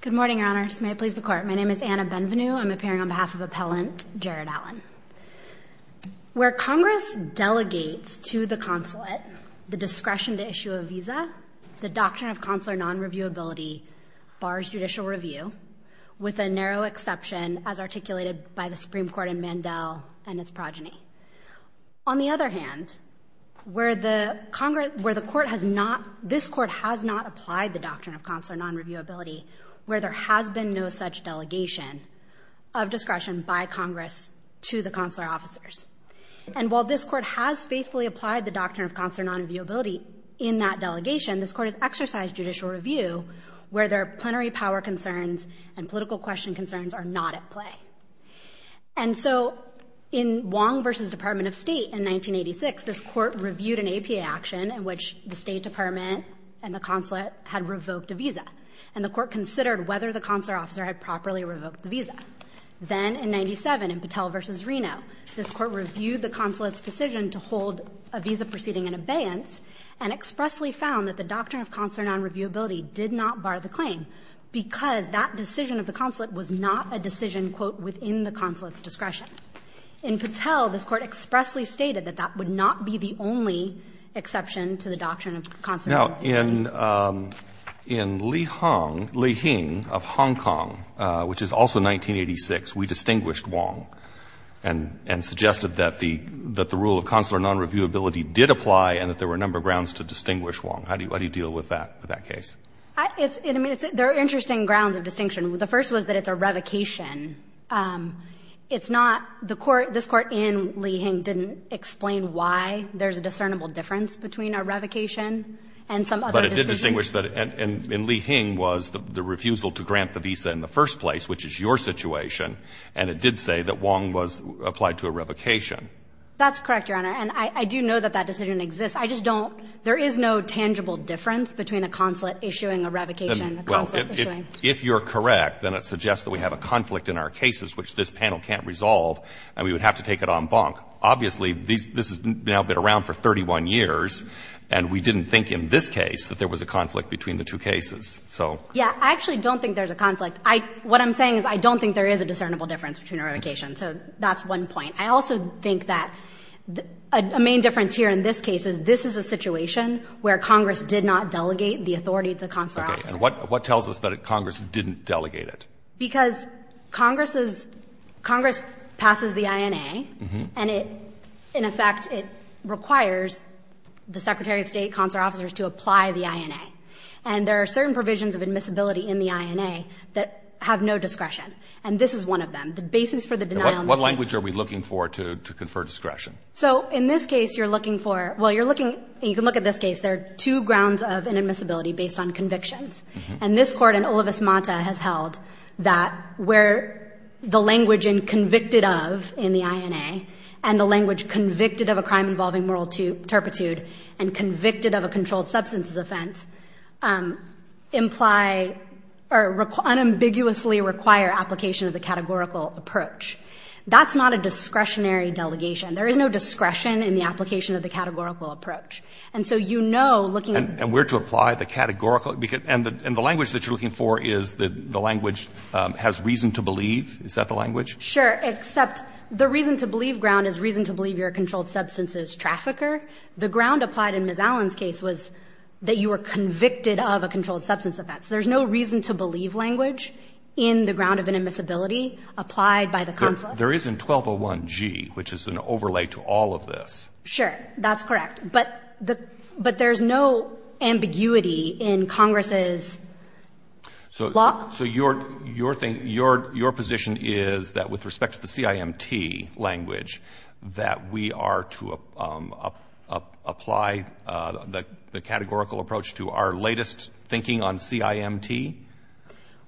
Good morning, Your Honors. May it please the Court. My name is Anna Benvenu. I'm appearing on behalf of Appellant Jerrid Allen. Where Congress delegates to the consulate the discretion to issue a visa, the Doctrine of Consular Non-Reviewability bars judicial review, with a narrow exception as articulated by the Supreme Court in Mandel and its progeny. On the other hand, where the Congress, where the Court has not, this Court has not applied the Doctrine of Consular Non-Reviewability, where there has been no such delegation of discretion by Congress to the consular officers. And while this Court has faithfully applied the Doctrine of Consular Non-Reviewability in that delegation, this Court has exercised judicial review where there are plenary power concerns and political question concerns are not at play. And so in Wong v. Department of State in 1986, this Court reviewed an APA action in which the State Department and the consulate had revoked a visa, and the Court considered whether the consular officer had properly revoked the visa. Then in 1997, in Patel v. Reno, this Court reviewed the consulate's decision to hold a visa proceeding in abeyance and expressly found that the Doctrine of Consular Non-Reviewability did not bar the claim because that decision of the consulate was not a decision, quote, within the consulate's discretion. In Patel, this Court expressly stated that that would not be the only exception to the Doctrine of Consular Non-Reviewability. Now, in Li Hong, Li Hing of Hong Kong, which is also 1986, we distinguished Wong and suggested that the rule of consular non-reviewability did apply and that there were a number of grounds to distinguish Wong. How do you deal with that, with that case? It's, I mean, there are interesting grounds of distinction. The first was that it's a revocation. It's not, the Court, this Court in Li Hing didn't explain why there's a discernible difference between a revocation and some other decision. But it did distinguish that, and Li Hing was the refusal to grant the visa in the first place, which is your situation, and it did say that Wong was applied to a revocation. That's correct, Your Honor. And I do know that that decision exists. I just don't, there is no tangible difference between a consulate issuing a revocation and a consulate issuing. If you're correct, then it suggests that we have a conflict in our cases, which this panel can't resolve, and we would have to take it en banc. Obviously, this has now been around for 31 years, and we didn't think in this case that there was a conflict between the two cases, so. Yeah. I actually don't think there's a conflict. I, what I'm saying is I don't think there is a discernible difference between revocations, so that's one point. I also think that a main difference here in this case is this is a situation where Congress did not delegate the authority to the consular officer. And what tells us that Congress didn't delegate it? Because Congress is, Congress passes the INA, and it, in effect, it requires the Secretary of State consular officers to apply the INA. And there are certain provisions of admissibility in the INA that have no discretion, and this is one of them, the basis for the denial of discretion. What language are we looking for to confer discretion? So, in this case, you're looking for, well, you're looking, you can look at this case, there are two grounds of inadmissibility based on convictions. And this court in Olivas-Monta has held that where the language in convicted of in the INA and the language convicted of a crime involving moral turpitude and convicted of a controlled substances offense imply or unambiguously require application of the categorical approach. That's not a discretionary delegation. There is no discretion in the application of the categorical approach. And so you know, looking at the. And we're to apply the categorical. And the language that you're looking for is the language has reason to believe. Is that the language? Sure. Except the reason to believe ground is reason to believe you're a controlled substances trafficker. The ground applied in Ms. Allen's case was that you were convicted of a controlled substance offense. There's no reason to believe language in the ground of inadmissibility applied by the consular. There is in 1201G, which is an overlay to all of this. Sure. That's correct. But there's no ambiguity in Congress's law. So your position is that with respect to the CIMT language, that we are to apply the categorical approach to our latest thinking on CIMT?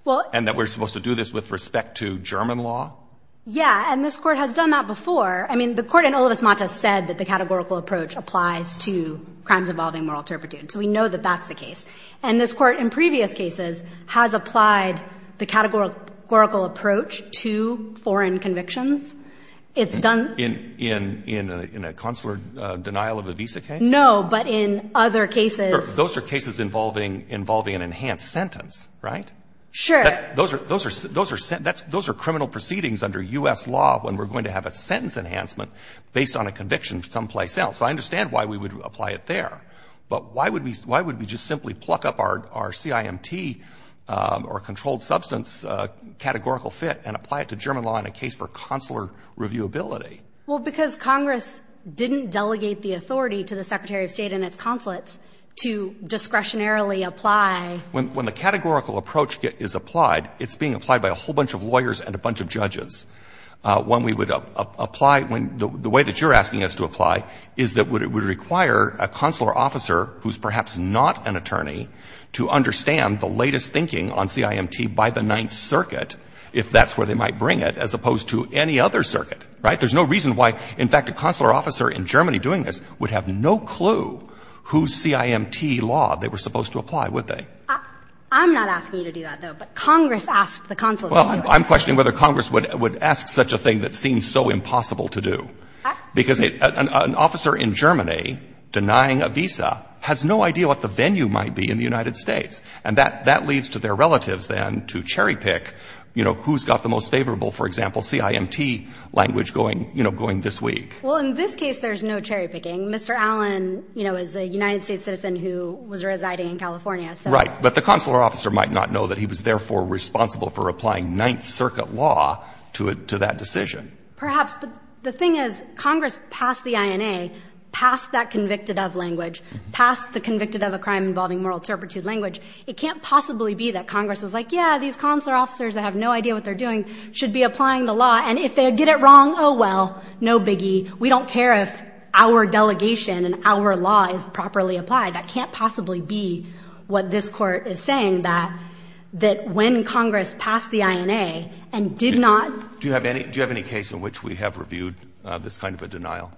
Well. And that we're supposed to do this with respect to German law? Yeah. And this Court has done that before. I mean, the Court in Olivas-Matas said that the categorical approach applies to crimes involving moral turpitude. So we know that that's the case. And this Court in previous cases has applied the categorical approach to foreign convictions. It's done. In a consular denial of a visa case? No. But in other cases. Those are cases involving an enhanced sentence, right? Sure. Those are criminal proceedings under U.S. law when we're going to have a sentence enhancement based on a conviction someplace else. So I understand why we would apply it there. But why would we just simply pluck up our CIMT or controlled substance categorical fit and apply it to German law in a case for consular reviewability? Well, because Congress didn't delegate the authority to the Secretary of State and its consulates to discretionarily apply. When the categorical approach is applied, it's being applied by a whole bunch of lawyers and a bunch of judges. When we would apply the way that you're asking us to apply is that it would require a consular officer who's perhaps not an attorney to understand the latest thinking on CIMT by the Ninth Circuit, if that's where they might bring it, as opposed to any other circuit, right? There's no reason why, in fact, a consular officer in Germany doing this would have no clue whose CIMT law they were supposed to apply, would they? I'm not asking you to do that, though. But Congress asked the consulates to do it. I'm questioning whether Congress would ask such a thing that seems so impossible to do, because an officer in Germany denying a visa has no idea what the venue might be in the United States. And that leads to their relatives, then, to cherry pick, you know, who's got the most favorable, for example, CIMT language going, you know, going this week. Well, in this case, there's no cherry picking. Mr. Allen, you know, is a United States citizen who was residing in California, so. But the consular officer might not know that he was therefore responsible for applying Ninth Circuit law to that decision. Perhaps. But the thing is, Congress passed the INA, passed that convicted-of language, passed the convicted-of-a-crime-involving moral turpitude language. It can't possibly be that Congress was like, yeah, these consular officers that have no idea what they're doing should be applying the law, and if they get it wrong, oh, well, no biggie. We don't care if our delegation and our law is properly applied. That can't possibly be what this Court is saying, that when Congress passed the INA and did not. Do you have any case in which we have reviewed this kind of a denial?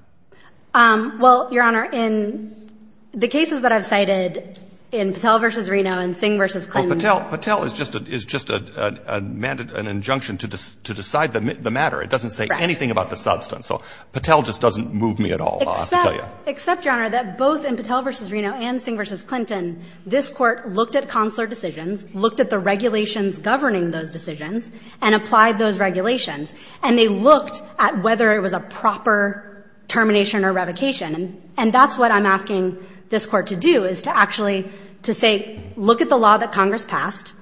Well, Your Honor, in the cases that I've cited in Patel v. Reno and Singh v. Clinton. Well, Patel is just an injunction to decide the matter. It doesn't say anything about the substance. Correct. So Patel just doesn't move me at all, I'll have to tell you. Except, Your Honor, that both in Patel v. Reno and Singh v. Clinton, this Court looked at consular decisions, looked at the regulations governing those decisions, and applied those regulations. And they looked at whether it was a proper termination or revocation, and that's what I'm asking this Court to do, is to actually to say, look at the law that Congress passed.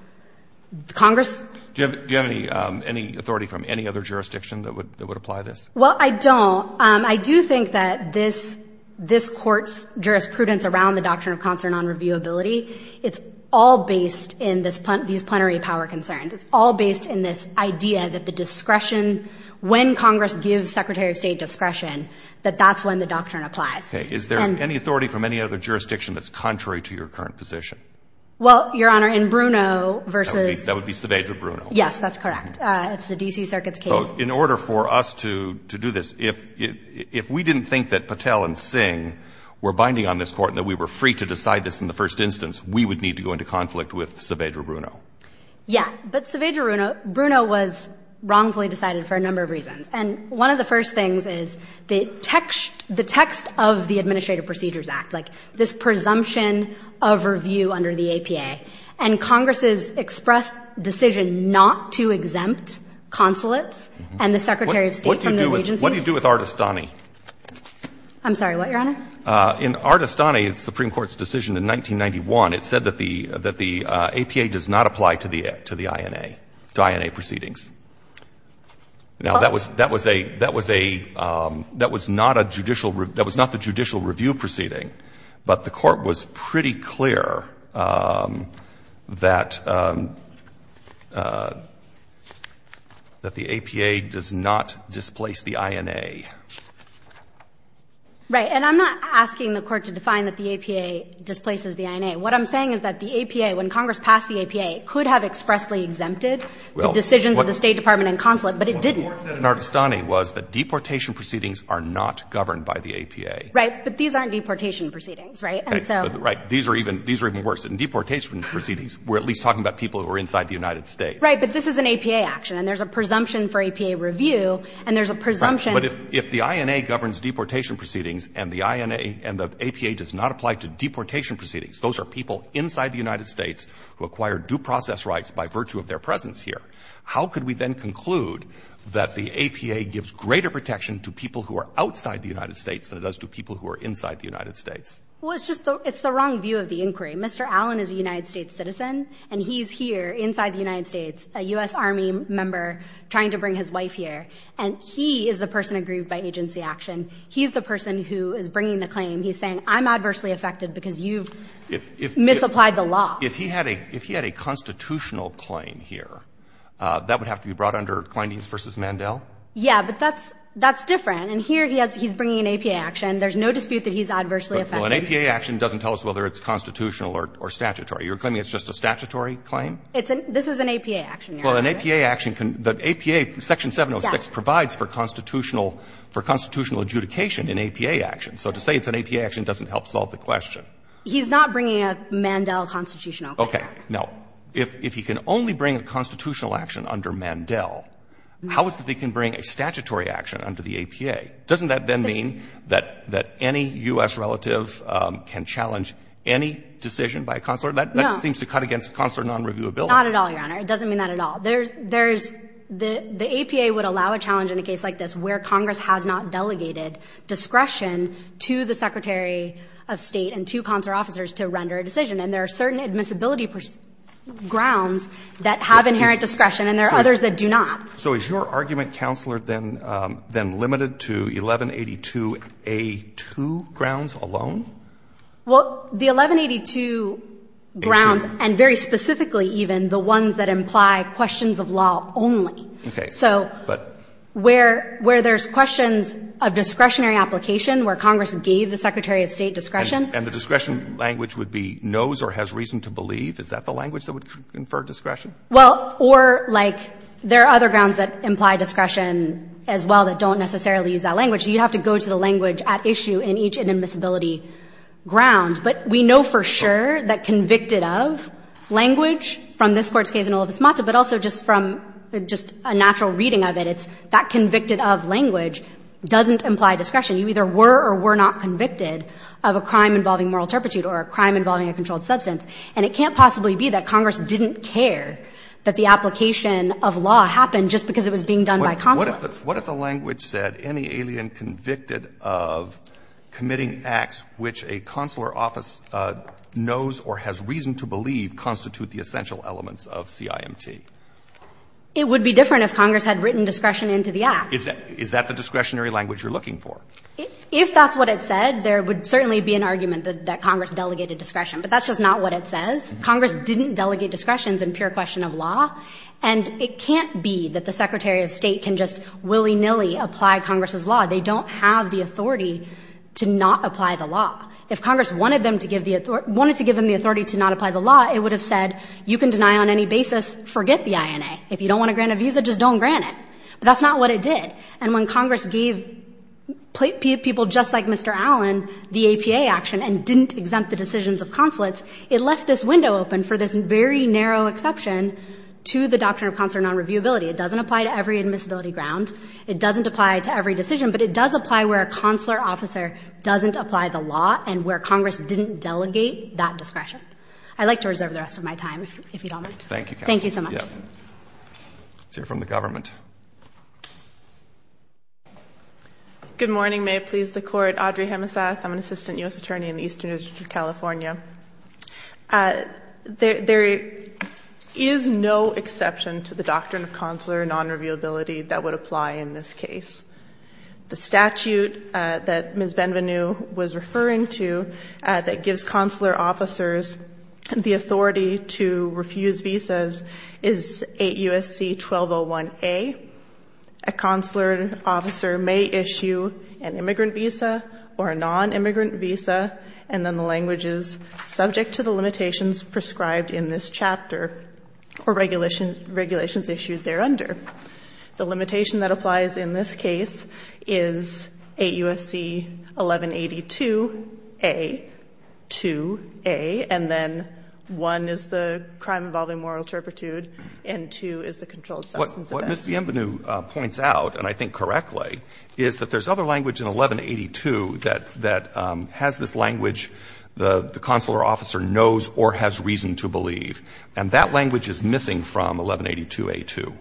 Congress. Do you have any authority from any other jurisdiction that would apply this? Well, I don't. I do think that this Court's jurisprudence around the doctrine of consular nonreviewability, it's all based in these plenary power concerns. It's all based in this idea that the discretion, when Congress gives Secretary of State discretion, that that's when the doctrine applies. Okay. Is there any authority from any other jurisdiction that's contrary to your current position? Well, Your Honor, in Bruno v. That would be surveyed with Bruno. Yes, that's correct. It's the D.C. Circuit's case. So in order for us to do this, if we didn't think that Patel and Singh were binding on this Court and that we were free to decide this in the first instance, we would need to go into conflict with Saavedra Bruno. Yeah. But Saavedra Bruno was wrongfully decided for a number of reasons. And one of the first things is the text of the Administrative Procedures Act, like this presumption of review under the APA, and Congress's expressed decision not to review it. And the Secretary of State from those agencies? What do you do with Artestani? I'm sorry. What, Your Honor? In Artestani, the Supreme Court's decision in 1991, it said that the APA does not apply to the INA, to INA proceedings. Now, that was a — that was not a judicial — that was not the judicial review of the APA. The APA does not displace the INA. Right. And I'm not asking the Court to define that the APA displaces the INA. What I'm saying is that the APA, when Congress passed the APA, could have expressly exempted the decisions of the State Department and consulate, but it didn't. Well, what the Court said in Artestani was that deportation proceedings are not governed by the APA. Right. But these aren't deportation proceedings, right? And so — Right. These are even — these are even worse. In deportation proceedings, we're at least talking about people who are inside the United States. Right. But this is an APA action, and there's a presumption for APA review, and there's a presumption — Right. But if the INA governs deportation proceedings and the INA and the APA does not apply to deportation proceedings, those are people inside the United States who acquired due process rights by virtue of their presence here, how could we then conclude that the APA gives greater protection to people who are outside the United States than it does to people who are inside the United States? Well, it's just the — it's the wrong view of the inquiry. Mr. Allen is a United States citizen, and he's here inside the United States, a U.S. Army member, trying to bring his wife here. And he is the person aggrieved by agency action. He's the person who is bringing the claim. He's saying, I'm adversely affected because you've misapplied the law. If he had a constitutional claim here, that would have to be brought under Kleindienst v. Mandel? Yeah, but that's different. And here he's bringing an APA action. There's no dispute that he's adversely affected. Well, an APA action doesn't tell us whether it's constitutional or statutory. You're claiming it's just a statutory claim? It's an — this is an APA action. Well, an APA action can — the APA — Section 706 provides for constitutional — for constitutional adjudication in APA actions. So to say it's an APA action doesn't help solve the question. He's not bringing a Mandel constitutional claim. Okay. Now, if he can only bring a constitutional action under Mandel, how is it that he can bring a statutory action under the APA? Doesn't that then mean that — that any U.S. relative can challenge any decision by a consular? No. That seems to cut against consular non-reviewability. Not at all, Your Honor. It doesn't mean that at all. There's — there's — the APA would allow a challenge in a case like this where Congress has not delegated discretion to the Secretary of State and two consular officers to render a decision. And there are certain admissibility grounds that have inherent discretion, and there are others that do not. So is your argument, Counselor, then — then limited to 1182A2 grounds alone? Well, the 1182 grounds, and very specifically even the ones that imply questions of law only. Okay. So where — where there's questions of discretionary application, where Congress gave the Secretary of State discretion. And the discretion language would be knows or has reason to believe? Is that the language that would confer discretion? Well, or, like, there are other grounds that imply discretion as well that don't necessarily use that language. So you'd have to go to the language at issue in each admissibility ground. But we know for sure that convicted of language from this Court's case in Olivas-Mata, but also just from — just a natural reading of it, it's that convicted of language doesn't imply discretion. You either were or were not convicted of a crime involving moral turpitude or a crime involving a controlled substance. And it can't possibly be that Congress didn't care that the application of law happened just because it was being done by consular. What if the language said any alien convicted of committing acts which a consular office knows or has reason to believe constitute the essential elements of CIMT? It would be different if Congress had written discretion into the act. Is that the discretionary language you're looking for? If that's what it said, there would certainly be an argument that Congress delegated discretion, but that's just not what it says. Congress didn't delegate discretions in pure question of law. And it can't be that the Secretary of State can just willy-nilly apply Congress's law. They don't have the authority to not apply the law. If Congress wanted them to give the — wanted to give them the authority to not apply the law, it would have said, you can deny on any basis, forget the INA. If you don't want to grant a visa, just don't grant it. But that's not what it did. And when Congress gave people just like Mr. Allen the APA action and didn't exempt the decisions of consulates, it left this window open for this very narrow exception to the doctrine of consular nonreviewability. It doesn't apply to every admissibility ground. It doesn't apply to every decision. But it does apply where a consular officer doesn't apply the law and where Congress didn't delegate that discretion. I'd like to reserve the rest of my time, if you don't mind. Thank you, counsel. Thank you so much. Let's hear from the government. Good morning. May it please the Court. My name is Audrey Hemesath. I'm an assistant U.S. attorney in the Eastern District of California. There is no exception to the doctrine of consular nonreviewability that would apply in this case. The statute that Ms. Benvenu was referring to that gives consular officers the authority to refuse visas is 8 U.S.C. 1201A. A consular officer may issue an immigrant visa or a nonimmigrant visa, and then the language is subject to the limitations prescribed in this chapter or regulations issued thereunder. The limitation that applies in this case is 8 U.S.C. 1182A.2A, and then 1 is the crime involving moral turpitude and 2 is the controlled substance offense. What Ms. Benvenu points out, and I think correctly, is that there's other language in 1182 that has this language the consular officer knows or has reason to believe, and that language is missing from 1182A.2.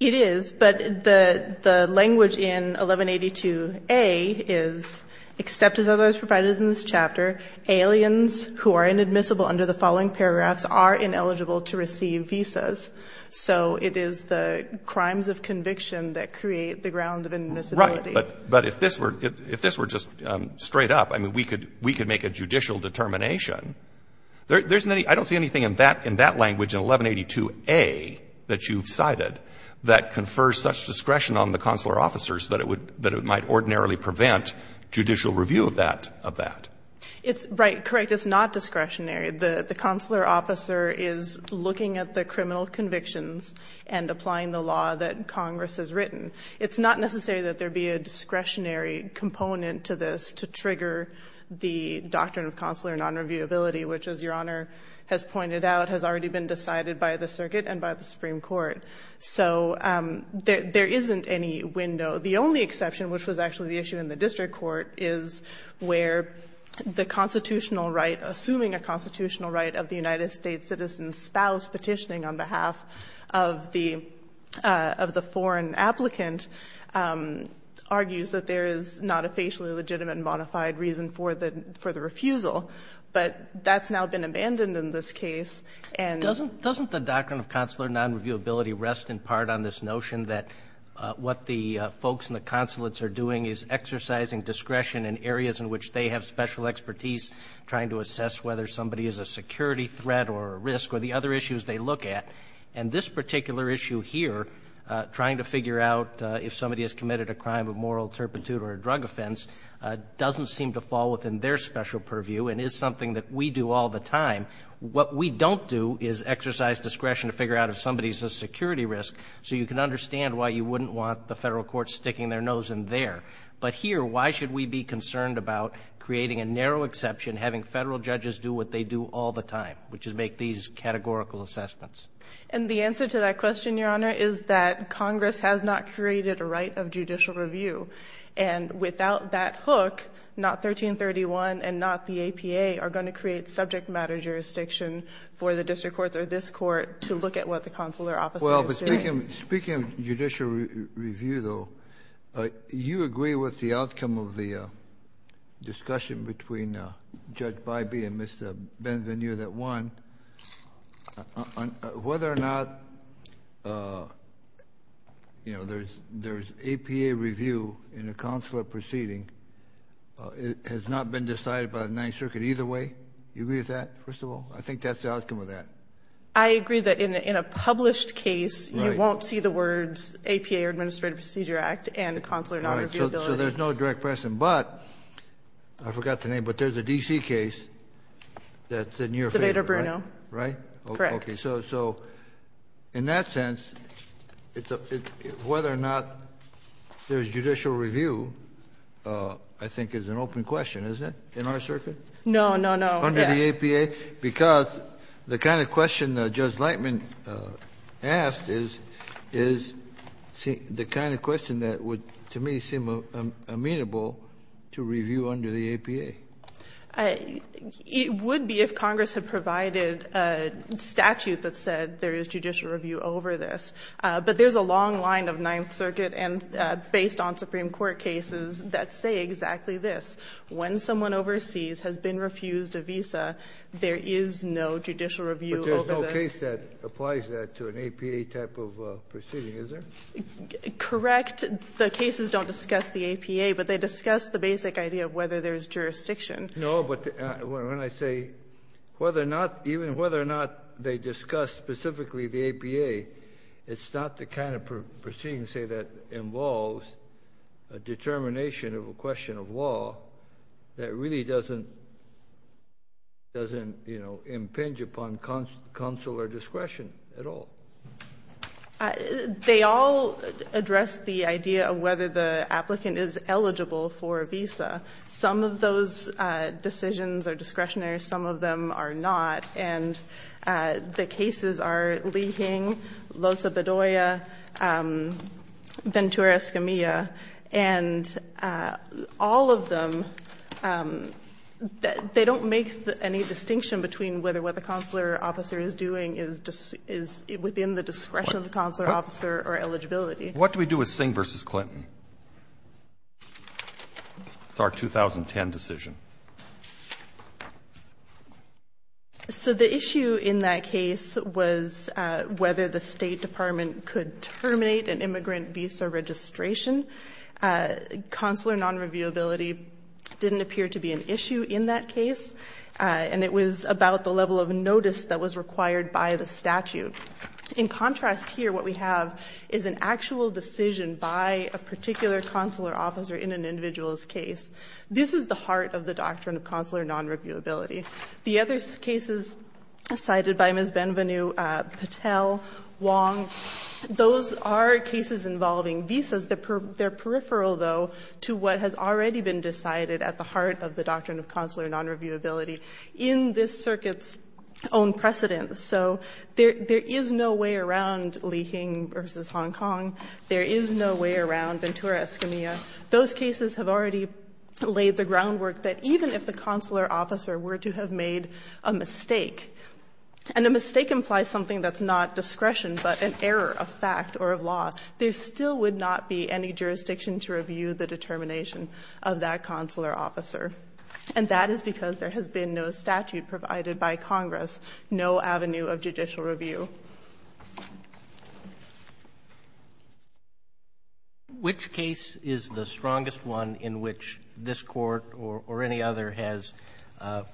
It is, but the language in 1182A is, except as otherwise provided in this chapter, aliens who are inadmissible under the following paragraphs are ineligible to receive visas, and it is the crimes of conviction that create the grounds of inadmissibility. Right, but if this were just straight up, I mean, we could make a judicial determination. I don't see anything in that language in 1182A that you've cited that confers such discretion on the consular officers that it might ordinarily prevent judicial review of that. It's right, correct. It's not discretionary. The consular officer is looking at the criminal convictions and applying the law that Congress has written. It's not necessary that there be a discretionary component to this to trigger the doctrine of consular nonreviewability, which, as Your Honor has pointed out, has already been decided by the circuit and by the Supreme Court. So there isn't any window. The only exception, which was actually the issue in the district court, is where the constitutional right, assuming a constitutional right of the United States citizen's spouse petitioning on behalf of the foreign applicant, argues that there is not a facially legitimate and modified reason for the refusal. But that's now been abandoned in this case. Doesn't the doctrine of consular nonreviewability rest in part on this notion that what the folks in the consulates are doing is exercising discretion in areas in which they have special expertise trying to assess whether somebody is a security threat or a risk or the other issues they look at? And this particular issue here, trying to figure out if somebody has committed a crime of moral turpitude or a drug offense, doesn't seem to fall within their special purview and is something that we do all the time. What we don't do is exercise discretion to figure out if somebody is a security risk, so you can understand why you wouldn't want the Federal courts sticking their nose in there. But here, why should we be concerned about creating a narrow exception, having Federal judges do what they do all the time, which is make these categorical assessments? And the answer to that question, Your Honor, is that Congress has not created a right of judicial review. And without that hook, not 1331 and not the APA are going to create subject matter jurisdiction for the district courts or this court to look at what the consular office is doing. Speaking of judicial review, though, you agree with the outcome of the discussion between Judge Bybee and Mr. Benvenu that, one, whether or not, you know, there's APA review in a consular proceeding has not been decided by the Ninth Circuit either way. Do you agree with that, first of all? I think that's the outcome of that. I agree that in a published case you won't see the words APA or Administrative Procedure Act and consular nonreviewability. So there's no direct precedent. But I forgot the name, but there's a D.C. case that's in your favor, right? Right? Correct. Okay. So in that sense, whether or not there's judicial review, I think, is an open question, isn't it, in our circuit? No, no, no. Under the APA? Because the kind of question Judge Lightman asked is the kind of question that would to me seem amenable to review under the APA. It would be if Congress had provided a statute that said there is judicial review over this. But there's a long line of Ninth Circuit and based on Supreme Court cases that say exactly this. When someone overseas has been refused a visa, there is no judicial review over them. But there's no case that applies that to an APA type of proceeding, is there? Correct. The cases don't discuss the APA, but they discuss the basic idea of whether there's jurisdiction. No, but when I say whether or not, even whether or not they discuss specifically the APA, it's not the kind of proceeding, say, that involves a determination of a question of law that really doesn't, you know, impinge upon consular discretion at all. They all address the idea of whether the applicant is eligible for a visa. Some of those decisions are discretionary. Some of them are not. And the cases are Li-Hing, Loza Bedoya, Ventura-Escamilla. And all of them, they don't make any distinction between whether what the consular officer is doing is within the discretion of the consular officer or eligibility. What do we do with Singh v. Clinton? It's our 2010 decision. So the issue in that case was whether the State Department could terminate an immigrant visa registration. Consular non-reviewability didn't appear to be an issue in that case, and it was about the level of notice that was required by the statute. In contrast here, what we have is an actual decision by a particular consular officer in an individual's case. This is the heart of the doctrine of consular non-reviewability. The other cases cited by Ms. Benvenu, Patel, Wong, those are cases involving visas that are peripheral, though, to what has already been decided at the heart of the doctrine of consular non-reviewability in this circuit's own precedence. So there is no way around Li-Hing v. Hong Kong. There is no way around Ventura-Escamilla. Those cases have already laid the groundwork that even if the consular officer were to have made a mistake, and a mistake implies something that's not discretion but an error of fact or of law, there still would not be any jurisdiction to review the determination of that consular officer. And that is because there has been no statute provided by Congress, no avenue of judicial review. Roberts Which case is the strongest one in which this Court or any other has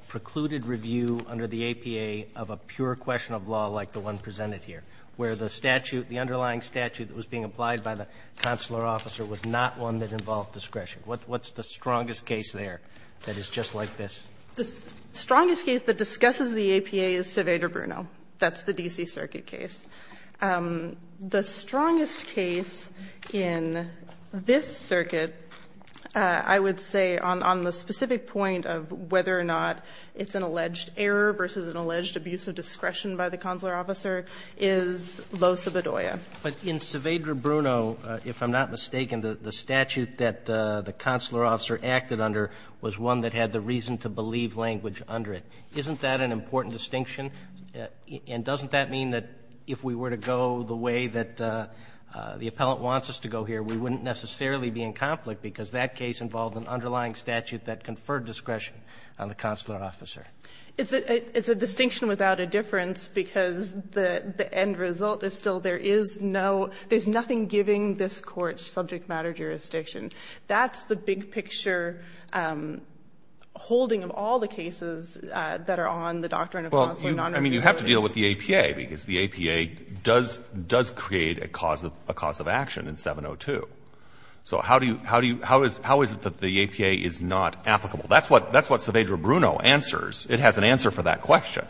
precluded review under the APA of a pure question of law like the one presented here, where the statute, the underlying statute that was being applied by the consular officer was not one that involved discretion? What's the strongest case there that is just like this? The strongest case that discusses the APA is Saavedra-Bruno. That's the D.C. Circuit case. The strongest case in this circuit, I would say, on the specific point of whether or not it's an alleged error versus an alleged abuse of discretion by the consular officer, is Losa Bedoya. But in Saavedra-Bruno, if I'm not mistaken, the statute that the consular officer acted under was one that had the reason to believe language under it. Isn't that an important distinction? And doesn't that mean that if we were to go the way that the appellant wants us to go here, we wouldn't necessarily be in conflict, because that case involved an underlying statute that conferred discretion on the consular officer? It's a distinction without a difference, because the end result is still there is no – there's nothing giving this Court subject matter jurisdiction. That's the big-picture holding of all the cases that are on the doctrine of consular non-representation. Well, I mean, you have to deal with the APA, because the APA does create a cause of action in 702. So how do you – how is it that the APA is not applicable? That's what Saavedra-Bruno answers. It has an answer for that question.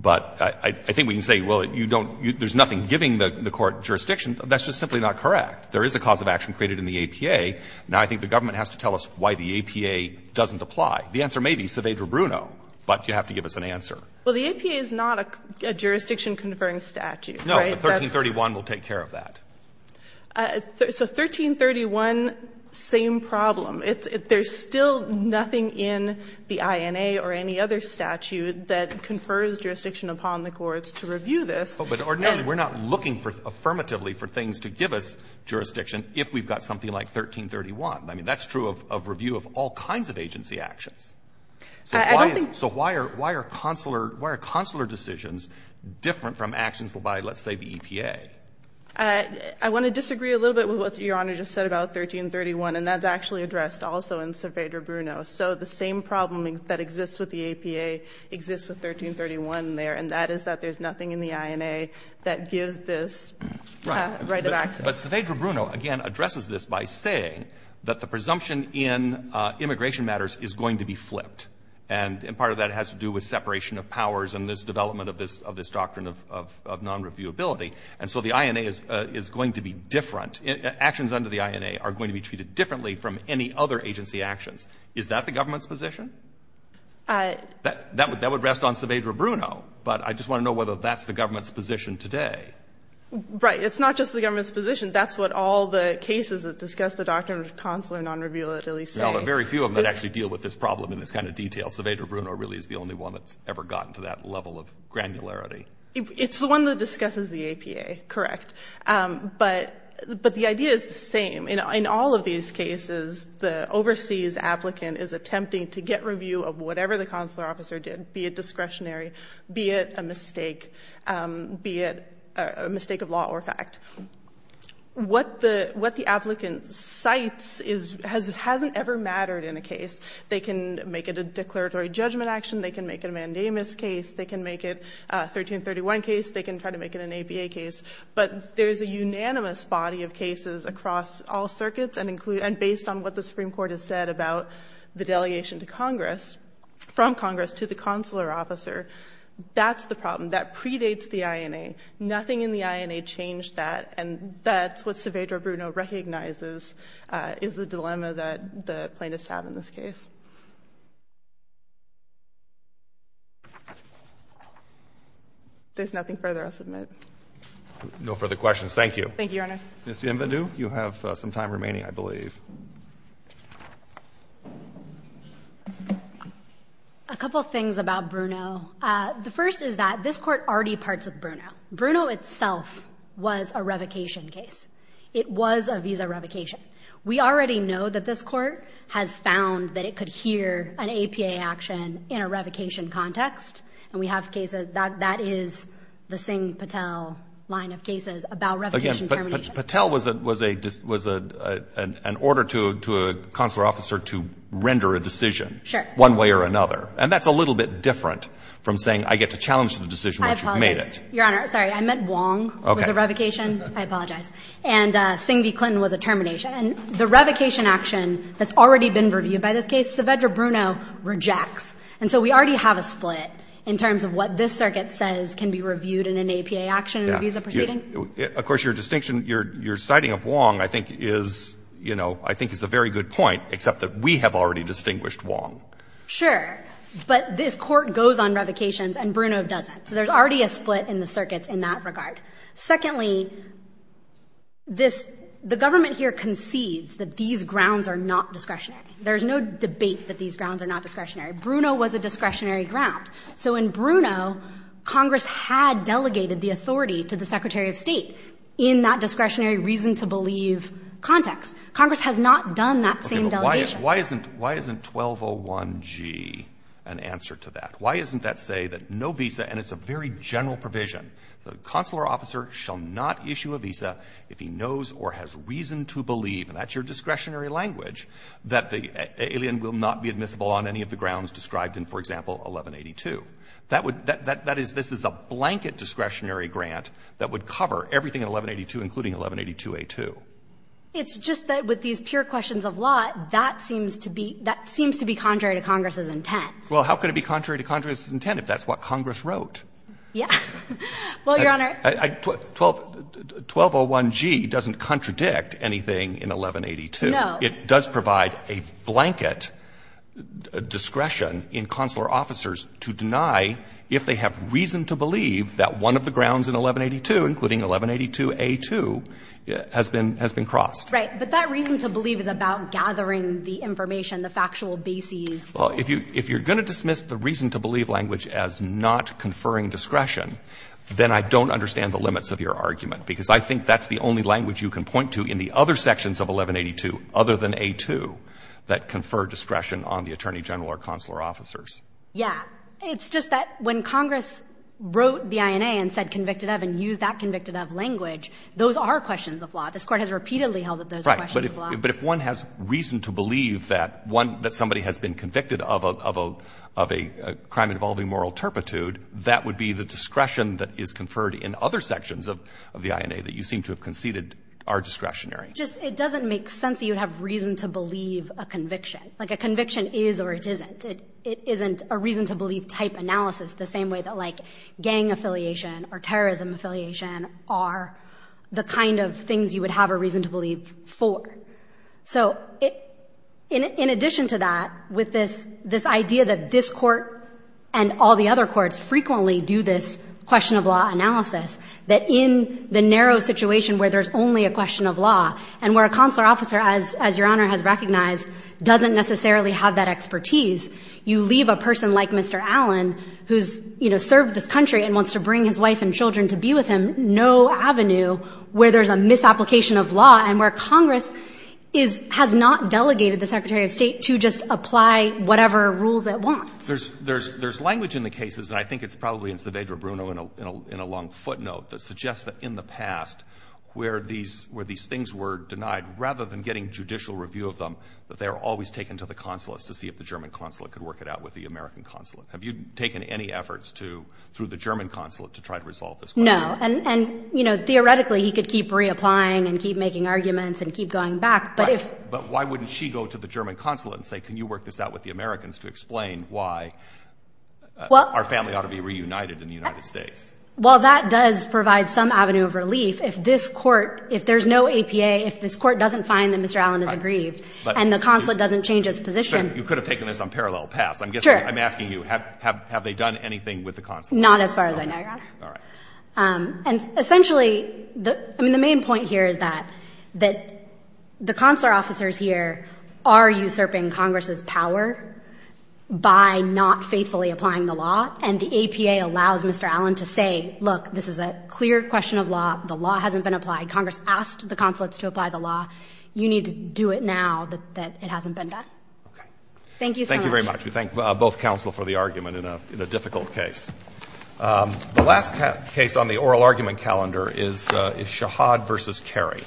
But I think we can say, well, you don't – there's nothing giving the Court jurisdiction. That's just simply not correct. There is a cause of action created in the APA. Now, I think the government has to tell us why the APA doesn't apply. The answer may be Saavedra-Bruno, but you have to give us an answer. Well, the APA is not a jurisdiction-conferring statute, right? No, but 1331 will take care of that. So 1331, same problem. There's still nothing in the INA or any other statute that confers jurisdiction upon the courts to review this. But ordinarily, we're not looking affirmatively for things to give us jurisdiction if we've got something like 1331. I mean, that's true of review of all kinds of agency actions. So why are consular decisions different from actions by, let's say, the EPA? I want to disagree a little bit with what Your Honor just said about 1331, and that's actually addressed also in Saavedra-Bruno. So the same problem that exists with the APA exists with 1331 there, and that is that there's nothing in the INA that gives this right of access. But Saavedra-Bruno, again, addresses this by saying that the presumption in immigration matters is going to be flipped. And part of that has to do with separation of powers and this development of this doctrine of nonreviewability. And so the INA is going to be different. Actions under the INA are going to be treated differently from any other agency actions. Is that the government's position? That would rest on Saavedra-Bruno, but I just want to know whether that's the government's position today. Right. It's not just the government's position. That's what all the cases that discuss the doctrine of consular nonreviewability say. Well, there are very few of them that actually deal with this problem in this kind of detail. Saavedra-Bruno really is the only one that's ever gotten to that level of granularity. It's the one that discusses the APA, correct. But the idea is the same. In all of these cases, the overseas applicant is attempting to get review of whatever the consular officer did, be it discretionary, be it a mistake, be it a mistake of law or fact. What the applicant cites hasn't ever mattered in a case. They can make it a declaratory judgment action. They can make it a mandamus case. They can make it a 1331 case. They can try to make it an APA case. But there's a unanimous body of cases across all circuits and based on what the Supreme Court has said about the delegation to Congress, from Congress to the consular officer, that's the problem. That predates the INA. Nothing in the INA changed that. And that's what Saavedra-Bruno recognizes is the dilemma that the plaintiffs have in this case. There's nothing further I'll submit. No further questions. Thank you. Thank you, Your Honor. Ms. Vivendu, you have some time remaining, I believe. A couple of things about Bruno. The first is that this Court already parts with Bruno. Bruno itself was a revocation case. It was a visa revocation. We already know that this Court has found that it could hear an APA action in a revocation context. And we have cases that is the Singh-Patel line of cases about revocation termination. But Patel was an order to a consular officer to render a decision. Sure. One way or another. And that's a little bit different from saying I get to challenge the decision once you've made it. I apologize, Your Honor. Sorry, I meant Wong was a revocation. I apologize. And Singh v. Clinton was a termination. And the revocation action that's already been reviewed by this case, Saavedra Bruno rejects. And so we already have a split in terms of what this circuit says can be reviewed in an APA action in a visa proceeding. Yeah. Of course, your distinction, your citing of Wong I think is, you know, I think is a very good point, except that we have already distinguished Wong. Sure. But this Court goes on revocations and Bruno doesn't. So there's already a split in the circuits in that regard. Secondly, this the government here concedes that these grounds are not discretionary. There's no debate that these grounds are not discretionary. Bruno was a discretionary ground. So in Bruno, Congress had delegated the authority to the Secretary of State in that discretionary reason-to-believe context. Congress has not done that same delegation. Okay. But why isn't 1201G an answer to that? Why isn't that say that no visa, and it's a very general provision, the consular officer shall not issue a visa if he knows or has reason to believe, and that's your discretionary language, that the alien will not be admissible on any of the grounds described in, for example, 1182? That would — that is — this is a blanket discretionary grant that would cover everything in 1182, including 1182a2. It's just that with these pure questions of law, that seems to be — that seems to be contrary to Congress's intent. Well, how could it be contrary to Congress's intent if that's what Congress wrote? Yeah. Well, Your Honor — 1201G doesn't contradict anything in 1182. No. It does provide a blanket discretion in consular officers to deny if they have reason to believe that one of the grounds in 1182, including 1182a2, has been crossed. Right. But that reason to believe is about gathering the information, the factual bases. Well, if you're going to dismiss the reason to believe language as not conferring discretion, then I don't understand the limits of your argument, because I think that's the only language you can point to in the other sections of 1182 other than a2 that confer discretion on the attorney general or consular officers. Yeah. It's just that when Congress wrote the INA and said convicted of and used that convicted of language, those are questions of law. This Court has repeatedly held that those are questions of law. But if one has reason to believe that somebody has been convicted of a crime involving moral turpitude, that would be the discretion that is conferred in other sections of the INA that you seem to have conceded are discretionary. Just it doesn't make sense that you would have reason to believe a conviction. Like a conviction is or it isn't. It isn't a reason to believe type analysis the same way that, like, gang affiliation or terrorism affiliation are the kind of things you would have a reason to believe for. So in addition to that, with this idea that this Court and all the other courts frequently do this question of law analysis, that in the narrow situation where there's only a question of law and where a consular officer, as Your Honor has recognized, doesn't necessarily have that expertise, you leave a person like Mr. Allen, who's served this country and wants to bring his wife and children to be with him, no avenue where there's a misapplication of law and where Congress has not delegated the Secretary of State to just apply whatever rules it wants. There's language in the cases, and I think it's probably in Saavedra Bruno in a long footnote, that suggests that in the past, where these things were denied, rather than getting judicial review of them, that they were always taken to the consulates to see if the German consulate could work it out with the American consulate. Have you taken any efforts to, through the German consulate, to try to resolve this question? No. And, you know, theoretically, he could keep reapplying and keep making arguments and keep going back, but if — But why wouldn't she go to the German consulate and say, can you work this out with the Americans to explain why our family ought to be reunited in the United States? Well, that does provide some avenue of relief. If this Court, if there's no APA, if this Court doesn't find that Mr. Allen is aggrieved and the consulate doesn't change its position — Sure. You could have taken this on parallel paths. Sure. I'm asking you, have they done anything with the consulate? Not as far as I know, Your Honor. All right. And essentially, I mean, the main point here is that the consular officers here are usurping Congress's power by not faithfully applying the law, and the APA allows Mr. Allen to say, look, this is a clear question of law. The law hasn't been applied. Congress asked the consulates to apply the law. Okay. Thank you so much. We thank both counsel for the argument in a difficult case. The last case on the oral argument calendar is Shahad v. Carey.